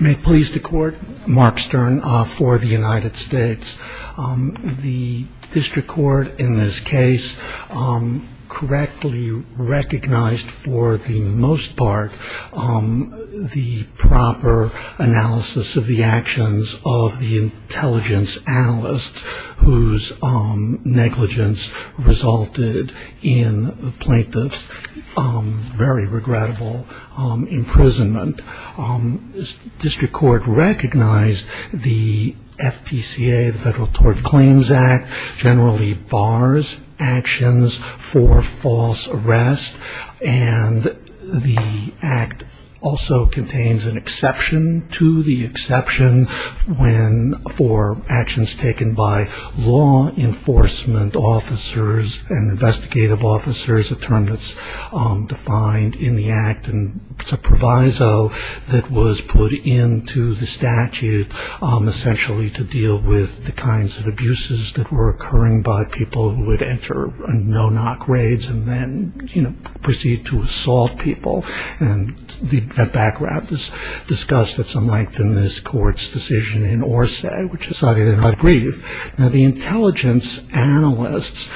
May it please the Court, Mark Stern for the United States. The District Court in this case correctly recognized for the most part the proper analysis of the actions of the intelligence analysts whose negligence resulted in the plaintiff's very regrettable imprisonment. The District Court recognized the FPCA, the Federal Tort Claims Act, generally bars actions for false arrest and the act also contains an exception to the exception for actions taken by law enforcement officers and investigative officers a term that's defined in the act and it's a proviso that was put into the statute essentially to deal with the kinds of abuses that were occurring by people who would enter no-knock raids and then you know proceed to assault people and the background is discussed at some length in this court's decision in Orsay which is cited in my brief. Now the intelligence analysts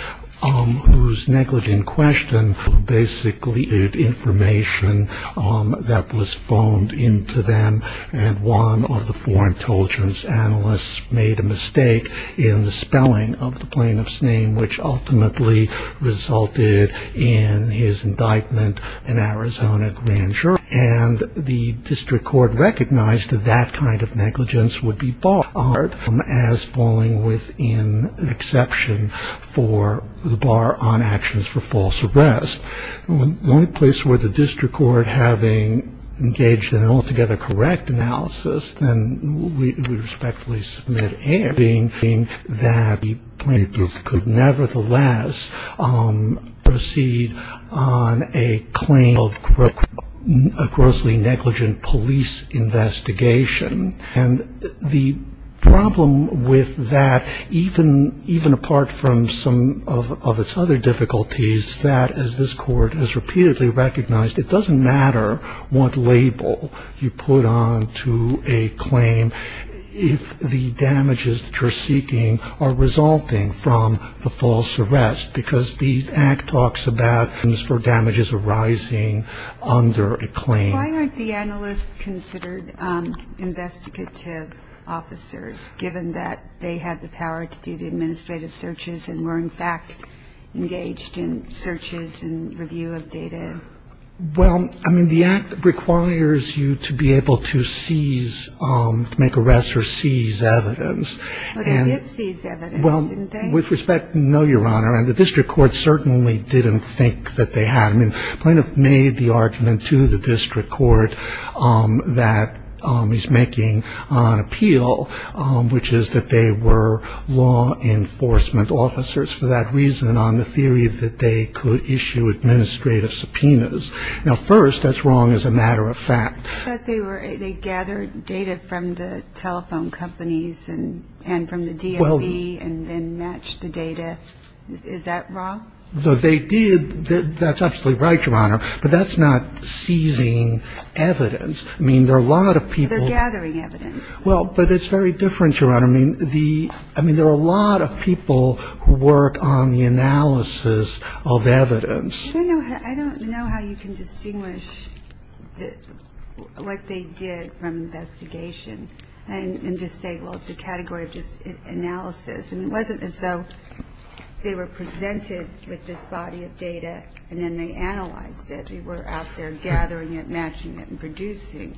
whose negligence in question basically information that was boned into them and one of the four intelligence analysts made a mistake in the spelling of the plaintiff's name which ultimately resulted in his indictment in Arizona Grand Jury and the District Court recognized that that kind of negligence would be barred as falling within exception for the bar on actions for false arrest. The only place where the District Court having engaged in an altogether correct analysis then we respectfully submit and that the plaintiff could nevertheless proceed on a claim of a grossly negligent police investigation and the problem with that even apart from some of its other difficulties that as this court has repeatedly recognized it doesn't matter what label you put on to a claim if the damage is too great. are resulting from the false arrest because the act talks about damages arising under a claim. Why aren't the analysts considered investigative officers given that they had the power to do the administrative searches and were in fact engaged in searches and review of data? Well I mean the act requires you to be able to seize to make arrests or seize evidence. But they did seize evidence didn't they? With respect no your honor and the District Court certainly didn't think that they had. I mean the plaintiff made the argument to the District Court that he's making on appeal which is that they were law enforcement officers for that reason on the theory that they could issue administrative subpoenas. Now first that's wrong as a matter of fact. I thought they gathered data from the telephone companies and from the DOE and then matched the data. Is that wrong? They did. That's absolutely right your honor. But that's not seizing evidence. I mean there are a lot of people. They're gathering evidence. Well but it's very different your honor. I mean there are a lot of people who work on the analysis of evidence. I don't know how you can distinguish what they did from investigation and just say well it's a category of analysis. It wasn't as though they were presented with this body of data and then they analyzed it. They were out there gathering it, matching it and producing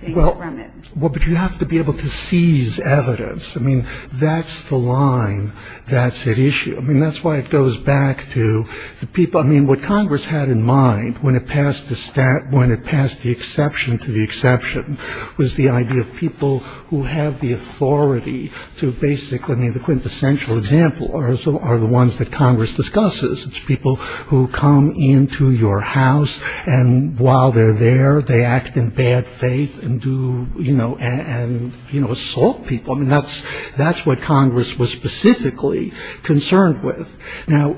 things from it. Well but you have to be able to seize evidence. I mean that's the line that's at issue. I mean that's why it goes back to the people. I mean what Congress had in mind when it passed the exception to the exception was the idea of people who have the authority to basically I mean the quintessential example are the ones that Congress discusses. People who come into your house and while they're there they act in bad faith and do you know and you know assault people. I mean that's what Congress was specifically concerned with. Now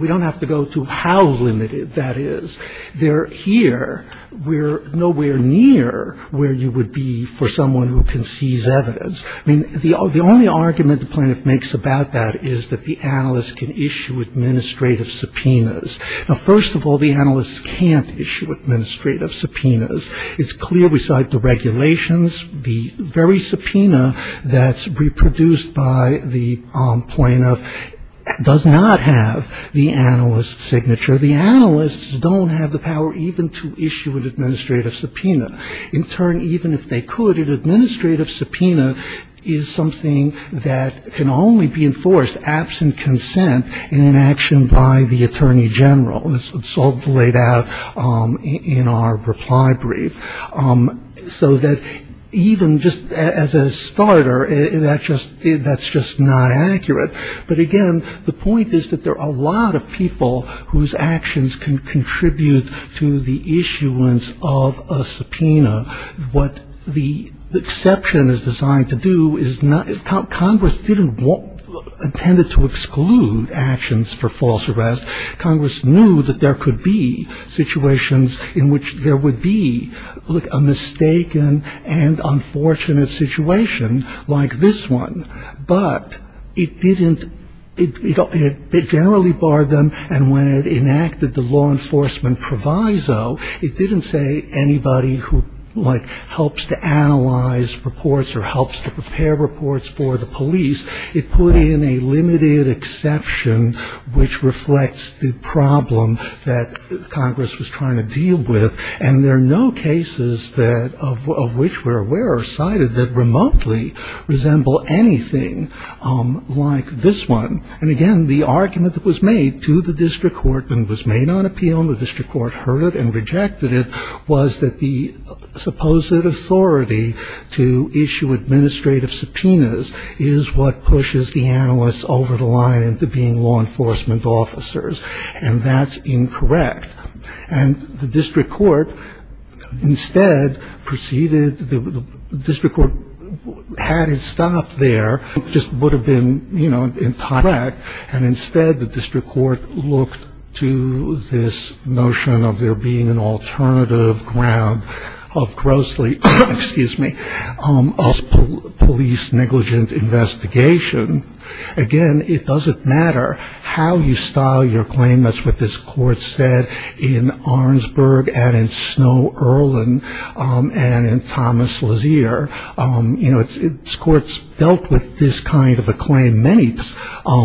we don't have to go to how limited that is. They're here. We're nowhere near where you would be for someone who can seize evidence. I mean the only argument the plaintiff makes about that is that the analyst can issue administrative subpoenas. Now first of all the analysts can't issue administrative subpoenas. It's clear beside the regulations the very subpoena that's reproduced by the plaintiff does not have the analyst's signature. The analysts don't have the power even to issue an administrative subpoena. In turn even if they could an administrative subpoena is something that can only be enforced absent consent in an action by the attorney general. It's all laid out in our reply brief. So that even just as a starter that's just not accurate. But again the point is that there are a lot of people whose actions can contribute to the issuance of a subpoena. What the exception is designed to do is Congress didn't intend to exclude actions for false arrest. Congress knew that there could be situations in which there would be a mistaken and unfortunate situation like this one. But it didn't it generally barred them and when it enacted the law enforcement proviso it didn't say anybody who like helps to analyze reports or helps to prepare reports for the police. It put in a limited exception which reflects the problem that Congress was trying to deal with. And there are no cases that of which we're aware are cited that remotely resemble anything like this one. And again the argument that was made to the district court and was made on appeal and the district court heard it and rejected it was that the supposed authority to issue administrative subpoenas is what pushes the analysts over the line into being law enforcement officers. And that's incorrect. And the district court instead proceeded, the district court hadn't stopped there. It just would have been, you know, in time. And instead the district court looked to this notion of there being an alternative ground of grossly, excuse me, of police negligent investigation. Again, it doesn't matter how you style your claim. That's what this court said in Arnsberg and in Snow-Erlin and in Thomas Lazier. You know, this court's dealt with this kind of a claim many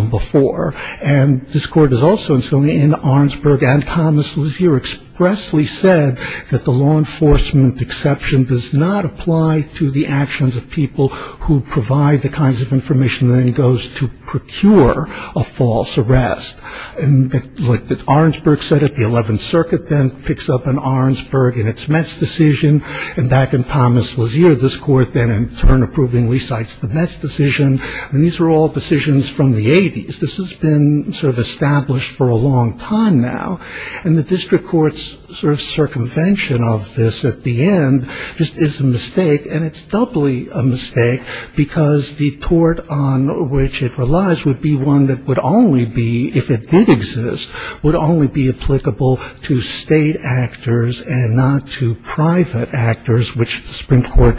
before. And this court has also in Arnsberg and Thomas Lazier expressly said that the law enforcement exception does not apply to the actions of people who provide the kinds of information that he goes to procure a false arrest. And like Arnsberg said it, the 11th Circuit then picks up an Arnsberg and its Metz decision. And back in Thomas Lazier this court then in turn approvingly cites the Metz decision. And these were all decisions from the 80s. This has been sort of established for a long time now. And the district court's sort of circumvention of this at the end just is a mistake. And it's doubly a mistake because the tort on which it relies would be one that would only be, if it did exist, would only be applicable to state actors and not to private actors, which the Supreme Court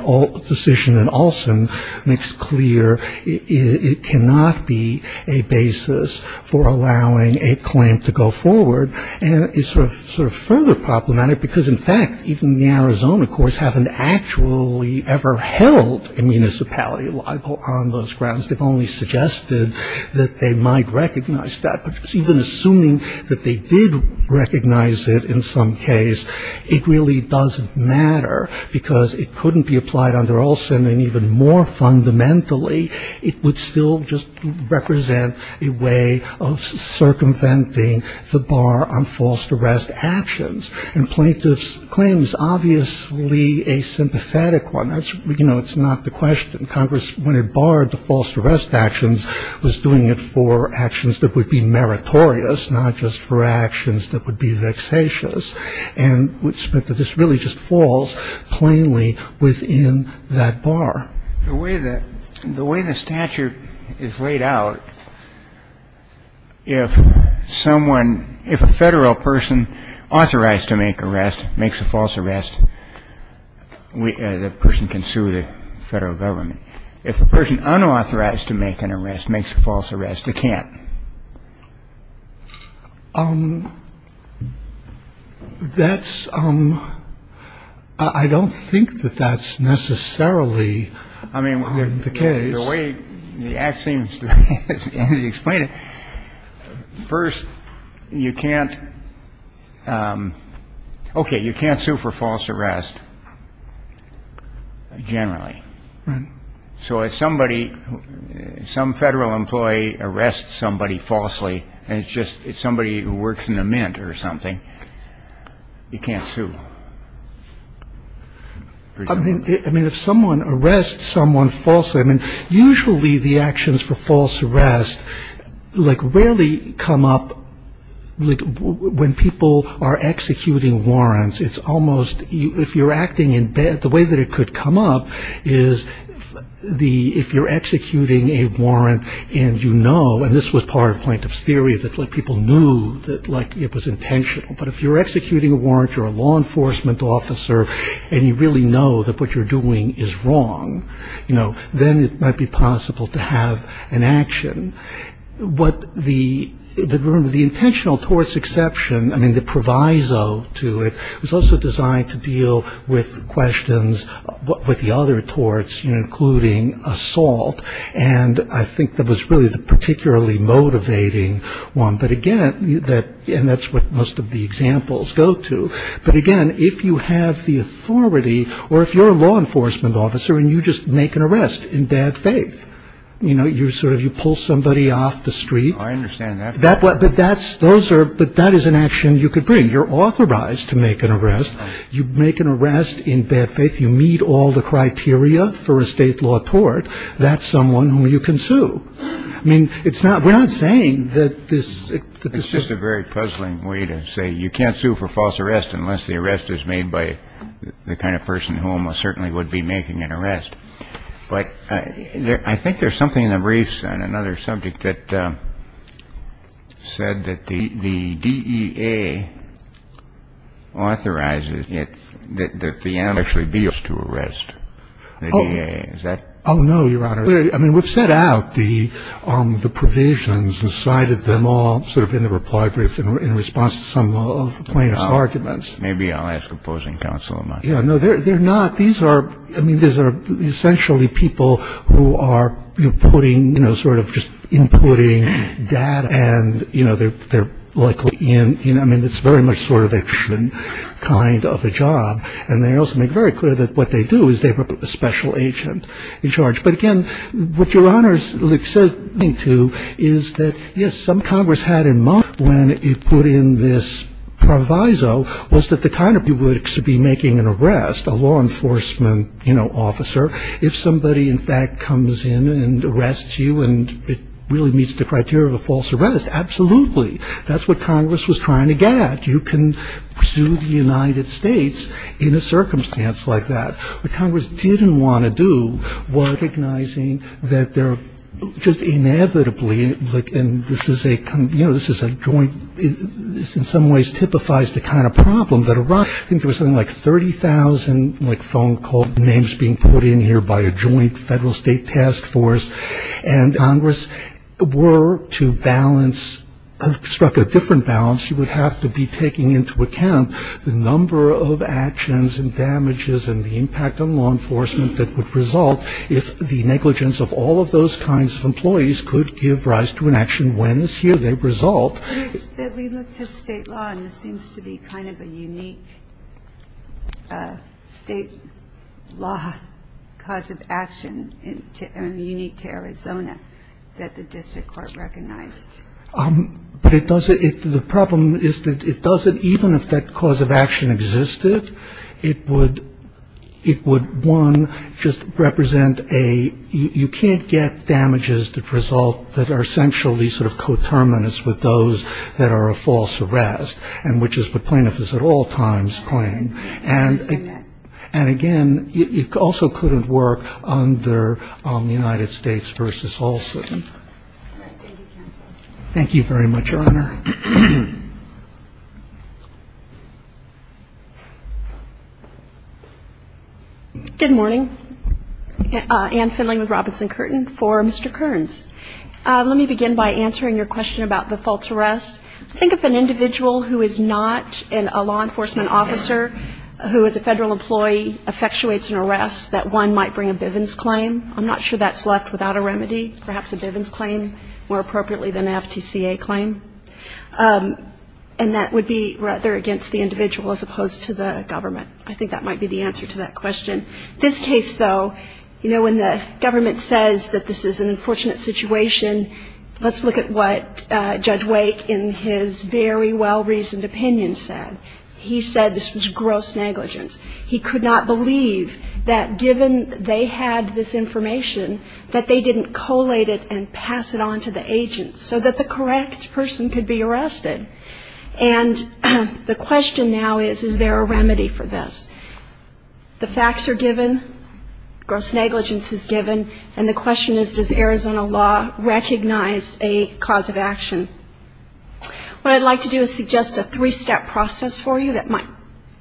decision in Olson makes clear it cannot be a basis for allowing a claim to go forward. And it's sort of further problematic because, in fact, even the Arizona courts haven't actually ever held a municipality libel on those grounds. They've only suggested that they might recognize that. Even assuming that they did recognize it in some case, it really doesn't matter because it couldn't be applied under Olson. And even more fundamentally, it would still just represent a way of circumventing the bar on false arrest actions. And plaintiff's claim is obviously a sympathetic one. You know, it's not the question. Congress, when it barred the false arrest actions, was doing it for actions that would be meritorious, not just for actions that would be vexatious. And this really just falls plainly within that bar. The way that the way the statute is laid out, if someone if a federal person authorized to make arrest makes a false arrest, the person can sue the federal government. If a person unauthorized to make an arrest makes a false arrest, they can't. That's I don't think that that's necessarily the case. The way the act seems to explain it. First, you can't. OK. You can't sue for false arrest. Generally. Right. So if somebody some federal employee arrests somebody falsely and it's just somebody who works in a mint or something, you can't sue. I mean, if someone arrests someone falsely, I mean, usually the actions for false arrest, like, really come up when people are executing warrants. It's almost if you're acting in bed, the way that it could come up is the if you're executing a warrant and, you know, and this was part of plaintiff's theory that people knew that like it was intentional. But if you're executing a warrant or a law enforcement officer and you really know that what you're doing is wrong, you know, then it might be possible to have an action. But the intentional torts exception, I mean, the proviso to it, was also designed to deal with questions with the other torts, you know, including assault. And I think that was really the particularly motivating one. But, again, that's what most of the examples go to. But, again, if you have the authority or if you're a law enforcement officer and you just make an arrest in bad faith, you know, I understand that. But that's those are but that is an action you could bring. You're authorized to make an arrest. You make an arrest in bad faith. You meet all the criteria for a state law tort. That's someone who you can sue. I mean, it's not we're not saying that this is just a very puzzling way to say you can't sue for false arrest unless the arrest is made by the kind of person who almost certainly would be making an arrest. But I think there's something in the briefs on another subject that said that the D.E.A. authorizes it that the actually be used to arrest. Oh, no, Your Honor. I mean, we've set out the the provisions, decided them all sort of in the reply brief in response to some of the plaintiff's arguments. Maybe I'll ask opposing counsel. Yeah, no, they're they're not. These are I mean, these are essentially people who are putting, you know, sort of just inputting data. And, you know, they're they're likely in. I mean, it's very much sort of action kind of a job. And they also make very clear that what they do is they put a special agent in charge. But again, what Your Honor is listening to is that, yes, when you put in this proviso was that the kind of you would be making an arrest, a law enforcement officer. If somebody, in fact, comes in and arrests you and it really meets the criteria of a false arrest. Absolutely. That's what Congress was trying to get at. You can sue the United States in a circumstance like that. What Congress didn't want to do was recognizing that they're just inevitably. And this is a you know, this is a joint. This in some ways typifies the kind of problem that a rush into something like 30,000, like phone call names being put in here by a joint federal state task force. And Congress were to balance struck a different balance. You would have to be taking into account the number of actions and damages and the impact on law enforcement that would result if the negligence of all of those kinds of employees could give rise to an action. When is here? They result. We look to state law and this seems to be kind of a unique state law cause of action and unique to Arizona that the district court recognized. But it does it. The problem is that it doesn't even if that cause of action existed, it would it would one just represent a you can't get damages that result that are essentially sort of coterminous with those that are a false arrest and which is what plaintiffs at all times claim. And again, it also couldn't work under the United States v. Olson. Thank you very much, Your Honor. Good morning. Ann Findlay with Robinson Curtin for Mr. Kearns. Let me begin by answering your question about the false arrest. I think if an individual who is not a law enforcement officer who is a federal employee effectuates an arrest that one might bring a Bivens claim. I'm not sure that's left without a remedy. Perhaps a Bivens claim more appropriately than an FTCA claim. And that would be rather against the individual as opposed to the government. I think that might be the answer to that question. This case, though, you know, when the government says that this is an unfortunate situation, let's look at what Judge Wake in his very well-reasoned opinion said. He said this was gross negligence. He could not believe that given they had this information that they didn't collate it and pass it on to the agent so that the correct person could be arrested. And the question now is, is there a remedy for this? The facts are given. Gross negligence is given. And the question is, does Arizona law recognize a cause of action? What I'd like to do is suggest a three-step process for you that might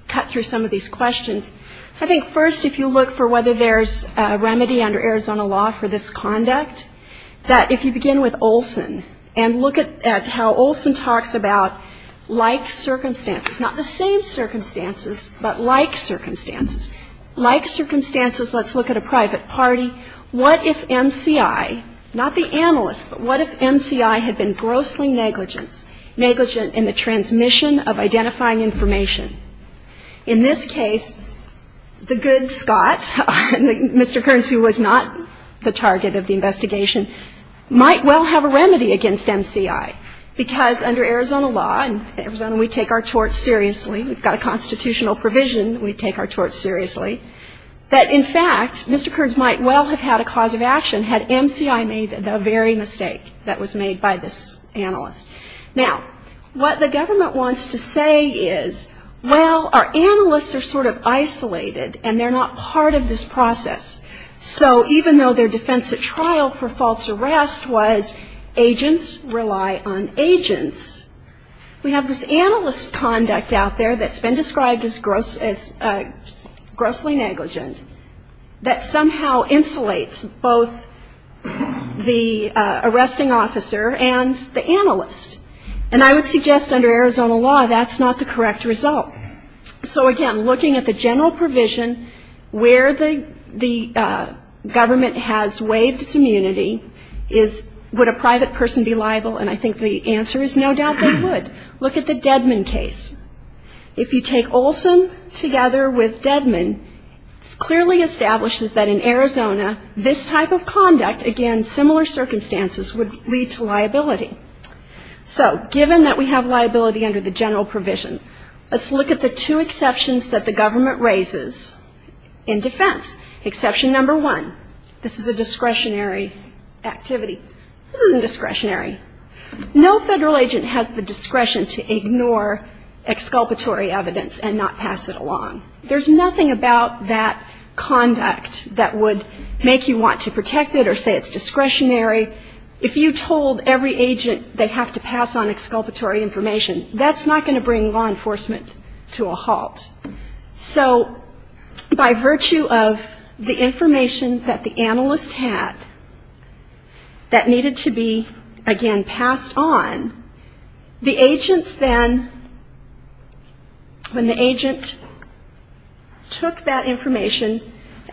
cut through some of these questions. I think first, if you look for whether there's a remedy under Arizona law for this conduct, that if you begin with Olson and look at how Olson talks about like circumstances, not the same circumstances, but like circumstances. Like circumstances, let's look at a private party. What if MCI, not the analyst, but what if MCI had been grossly negligent in the transmission of identifying information? In this case, the good Scott, Mr. Kearns, who was not the target of the investigation, might well have a remedy against MCI because under Arizona law, and Arizona we take our torts seriously, we've got a constitutional provision, we take our torts seriously, that in fact, Mr. Kearns might well have had a cause of action had MCI made the very mistake that was made by this analyst. Now, what the government wants to say is, well, our analysts are sort of isolated, and they're not part of this process. So even though their defense at trial for false arrest was agents rely on agents, we have this analyst conduct out there that's been described as grossly negligent that somehow insulates both the arresting officer and the analyst. And I would suggest under Arizona law, that's not the correct result. So again, looking at the general provision where the government has waived its immunity is, would a private person be liable? And I think the answer is no doubt they would. Look at the Dedmon case. If you take Olson together with Dedmon, it clearly establishes that in Arizona this type of conduct, again, similar circumstances, would lead to liability. So given that we have liability under the general provision, let's look at the two exceptions that the government raises in defense. Exception number one, this is a discretionary activity. This isn't discretionary. No federal agent has the discretion to ignore exculpatory evidence and not pass it along. There's nothing about that conduct that would make you want to protect it or say it's discretionary. If you told every agent they have to pass on exculpatory information, that's not going to bring law enforcement to a halt. So by virtue of the information that the analyst had that needed to be, again, passed on, the agents then, when the agent took that information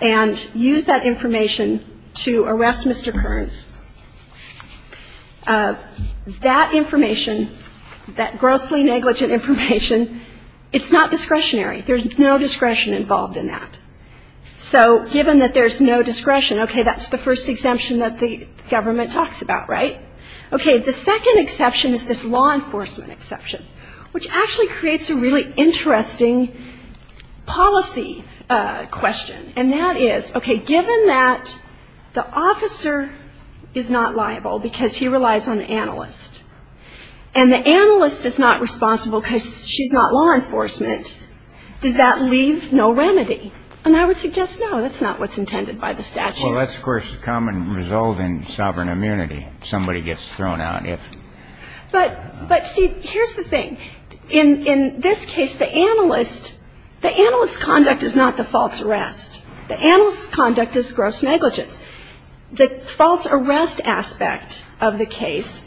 and used that information to arrest Mr. Kearns, that information, that grossly negligent information, it's not discretionary. There's no discretion involved in that. So given that there's no discretion, okay, that's the first exemption that the government talks about, right? Okay. The second exception is this law enforcement exception, which actually creates a really interesting policy question. And that is, okay, given that the officer is not liable because he relies on the analyst and the analyst is not responsible because she's not law enforcement, does that leave no remedy? And I would suggest, no, that's not what's intended by the statute. Well, that's, of course, a common result in sovereign immunity. Somebody gets thrown out if. But, see, here's the thing. In this case, the analyst's conduct is not the false arrest. The analyst's conduct is gross negligence. The false arrest aspect of the case,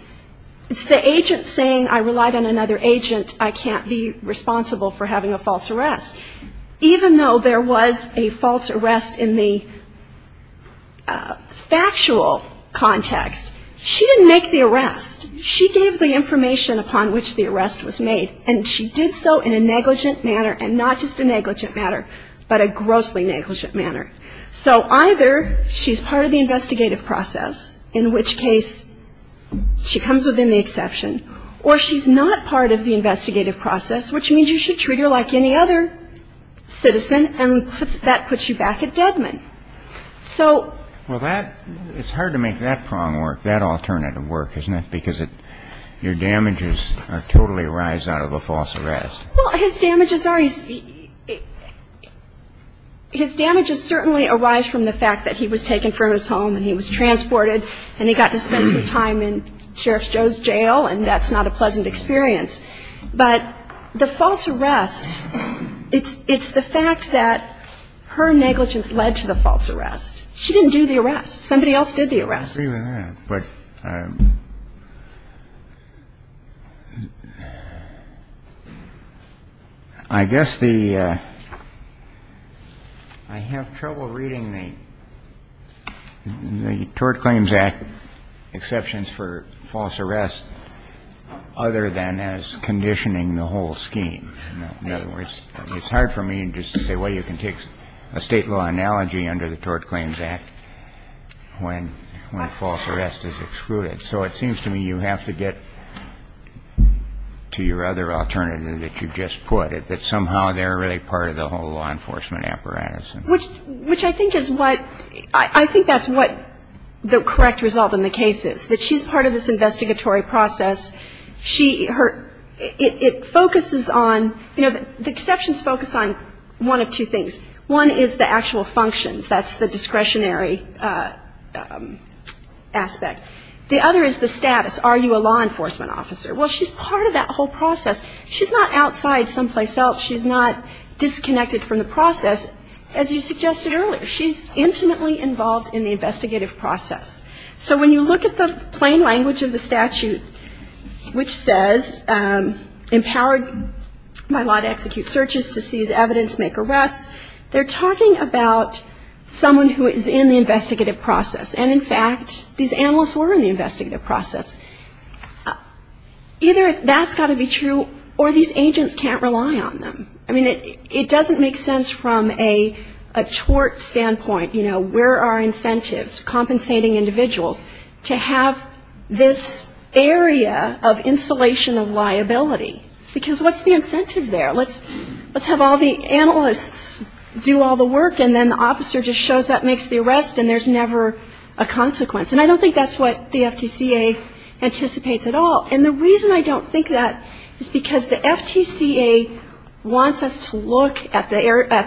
it's the agent saying I relied on another agent, I can't be responsible for having a false arrest. Even though there was a false arrest in the factual context, she didn't make the arrest. She gave the information upon which the arrest was made. And she did so in a negligent manner, and not just a negligent manner, but a grossly negligent manner. So either she's part of the investigative process, in which case she comes within the exception, or she's not part of the investigative process, which means you should treat her like any other citizen, and that puts you back at Deadman. So. Well, that, it's hard to make that prong work, that alternative work, isn't it? Because your damages totally arise out of a false arrest. Well, his damages are, his damages certainly arise from the fact that he was taken from his home and he was transported and he got to spend some time in Sheriff Joe's jail, and that's not a pleasant experience. But the false arrest, it's the fact that her negligence led to the false arrest. She didn't do the arrest. Somebody else did the arrest. I agree with that. But I guess the, I have trouble reading the Tort Claims Act exceptions for false arrest other than as conditioning the whole scheme. In other words, it's hard for me to say, well, you can take a State law analogy under the Tort Claims Act when false arrest is excluded. So it seems to me you have to get to your other alternative that you just put, that somehow they're really part of the whole law enforcement apparatus. Which I think is what, I think that's what the correct result in the case is, that she's part of this investigatory process. She, her, it focuses on, you know, the exceptions focus on one of two things. One is the actual functions. That's the discretionary aspect. The other is the status. Are you a law enforcement officer? Well, she's part of that whole process. She's not outside someplace else. She's not disconnected from the process, as you suggested earlier. She's intimately involved in the investigative process. So when you look at the plain language of the statute, which says, empowered by law to execute searches, to seize evidence, make arrests, they're talking about someone who is in the investigative process. And, in fact, these analysts were in the investigative process. Either that's got to be true or these agents can't rely on them. I mean, it doesn't make sense from a tort standpoint, you know, where are incentives, compensating individuals, to have this area of insulation of liability. Because what's the incentive there? Let's have all the analysts do all the work, and then the officer just shows up, makes the arrest, and there's never a consequence. And I don't think that's what the FTCA anticipates at all. And the reason I don't think that is because the FTCA wants us to look at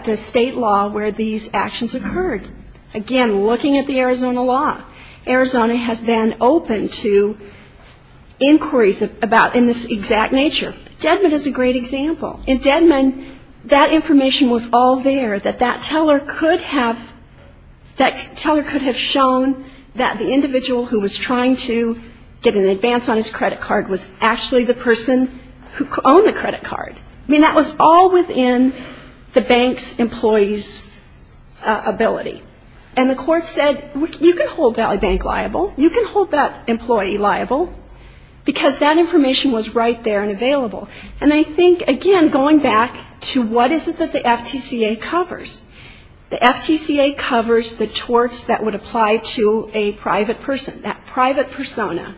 the state law where these actions occurred. Again, looking at the Arizona law, Arizona has been open to inquiries in this exact nature. Dedmon is a great example. In Dedmon, that information was all there that that teller could have shown that the individual who was trying to get an advance on his credit card was actually the person who owned the credit card. I mean, that was all within the bank's employee's ability. And the court said, you can hold that bank liable, you can hold that employee liable, because that information was right there and available. And I think, again, going back to what is it that the FTCA covers. The FTCA covers the torts that would apply to a private person, that private persona.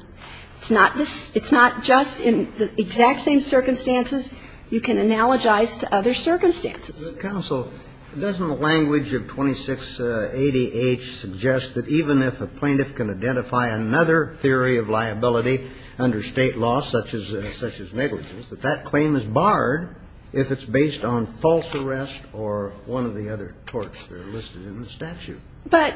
It's not just in the exact same circumstances. You can analogize to other circumstances. Kennedy. Counsel, doesn't the language of 2680H suggest that even if a plaintiff can identify another theory of liability under state law, such as negligence, that that claim is barred if it's based on false arrest or one of the other torts that are listed in the statute? But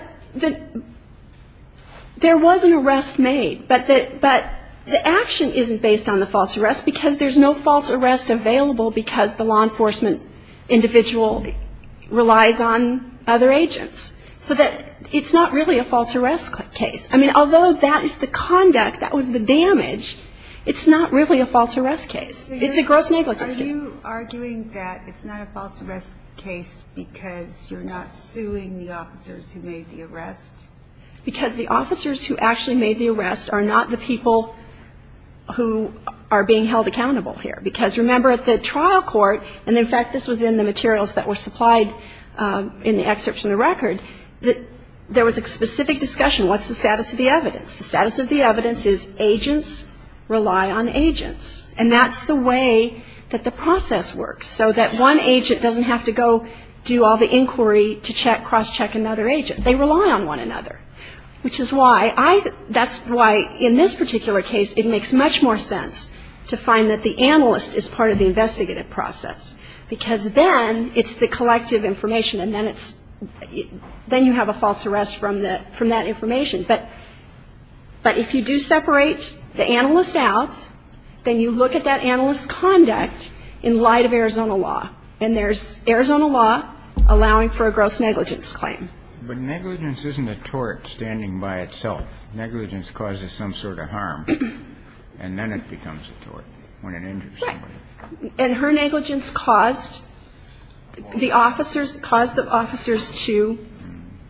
there was an arrest made. But the action isn't based on the false arrest because there's no false arrest available because the law enforcement individual relies on other agents. So it's not really a false arrest case. I mean, although that is the conduct, that was the damage, it's not really a false arrest case. It's a gross negligence case. Are you arguing that it's not a false arrest case because you're not suing the officers who made the arrest? Because the officers who actually made the arrest are not the people who are being held accountable here. Because, remember, at the trial court, and, in fact, this was in the materials that were supplied in the excerpts in the record, that there was a specific discussion, what's the status of the evidence? The status of the evidence is agents rely on agents. And that's the way that the process works, so that one agent doesn't have to go do all the inquiry to check, cross-check another agent. They rely on one another, which is why I think that's why, in this particular case, it makes much more sense to find that the analyst is part of the investigative process, because then it's the collective information, and then it's, then you have a false arrest from that information. But if you do separate the analyst out, then you look at that analyst's conduct in light of Arizona law. And there's Arizona law allowing for a gross negligence claim. But negligence isn't a tort standing by itself. Negligence causes some sort of harm, and then it becomes a tort when it injures somebody. Right. And her negligence caused the officers, caused the officers to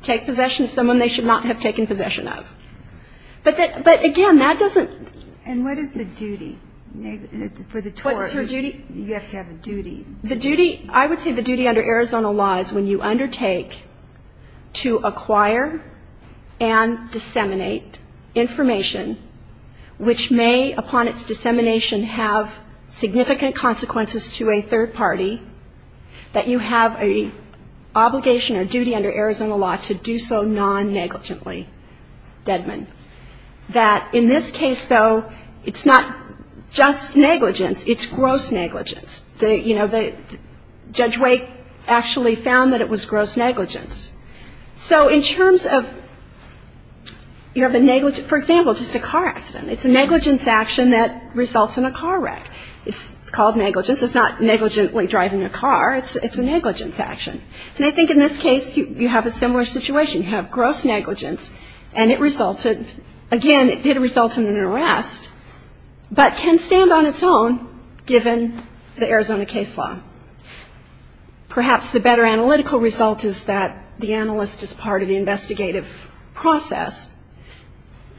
take possession of someone they should not have taken possession of. But again, that doesn't. And what is the duty for the tort? What's her duty? You have to have a duty. The duty, I would say the duty under Arizona law is when you undertake to acquire and disseminate information, which may, upon its dissemination, have significant consequences to a third party, that you have an obligation or duty under Arizona law to do so non-negligently, Deadman. That in this case, though, it's not just negligence. It's gross negligence. You know, Judge Wake actually found that it was gross negligence. So in terms of you have a negligence, for example, just a car accident, it's a negligence action that results in a car wreck. It's called negligence. It's not negligently driving a car. It's a negligence action. And I think in this case, you have a similar situation. You have gross negligence, and it resulted, again, it did result in an arrest, but can stand on its own given the Arizona case law. Perhaps the better analytical result is that the analyst is part of the investigative process,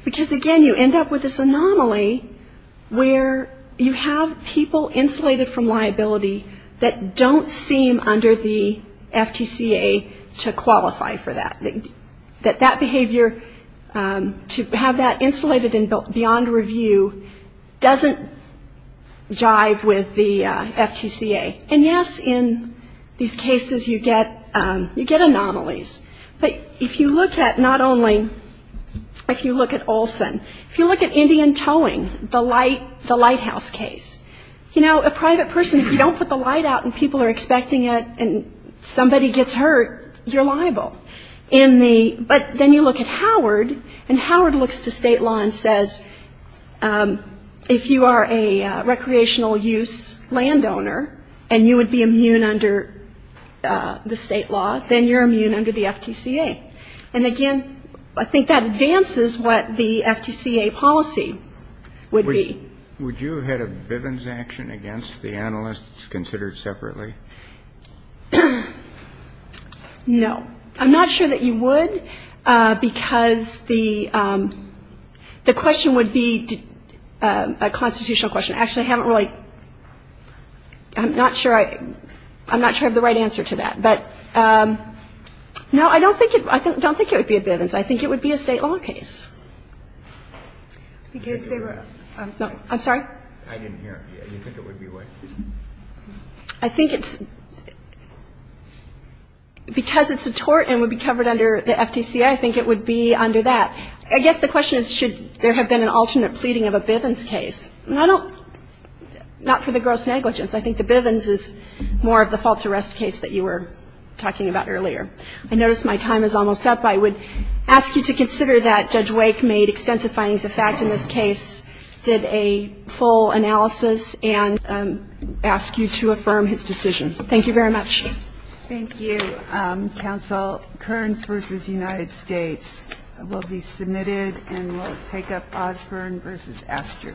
because, again, you end up with this anomaly where you have people insulated from liability that don't seem under the FTCA to qualify for that. That that behavior, to have that insulated and beyond review doesn't jive with the FTCA. And, yes, in these cases you get anomalies. But if you look at not only, if you look at Olson, if you look at Indian Towing, the lighthouse case, you know, a private person, if you don't put the light out and people are expecting it and somebody gets hurt, you're liable. But then you look at Howard, and Howard looks to state law and says, if you are a recreational use landowner and you would be immune under the state law, then you're immune under the FTCA. And, again, I think that advances what the FTCA policy would be. Would you have had a Bivens action against the analysts considered separately? No. I'm not sure that you would, because the question would be a constitutional question. Actually, I haven't really, I'm not sure I have the right answer to that. But, no, I don't think it would be a Bivens. I think it would be a state law case. Because they were, I'm sorry. I'm sorry? I didn't hear. You think it would be what? I think it's, because it's a tort and would be covered under the FTCA, I think it would be under that. I guess the question is, should there have been an alternate pleading of a Bivens case? And I don't, not for the gross negligence. I think the Bivens is more of the false arrest case that you were talking about earlier. I notice my time is almost up. I would ask you to consider that Judge Wake made extensive findings of fact in this case, did a full analysis, and ask you to affirm his decision. Thank you very much. Thank you. Counsel, Kearns v. United States will be submitted and will take up Osborne v. Astru.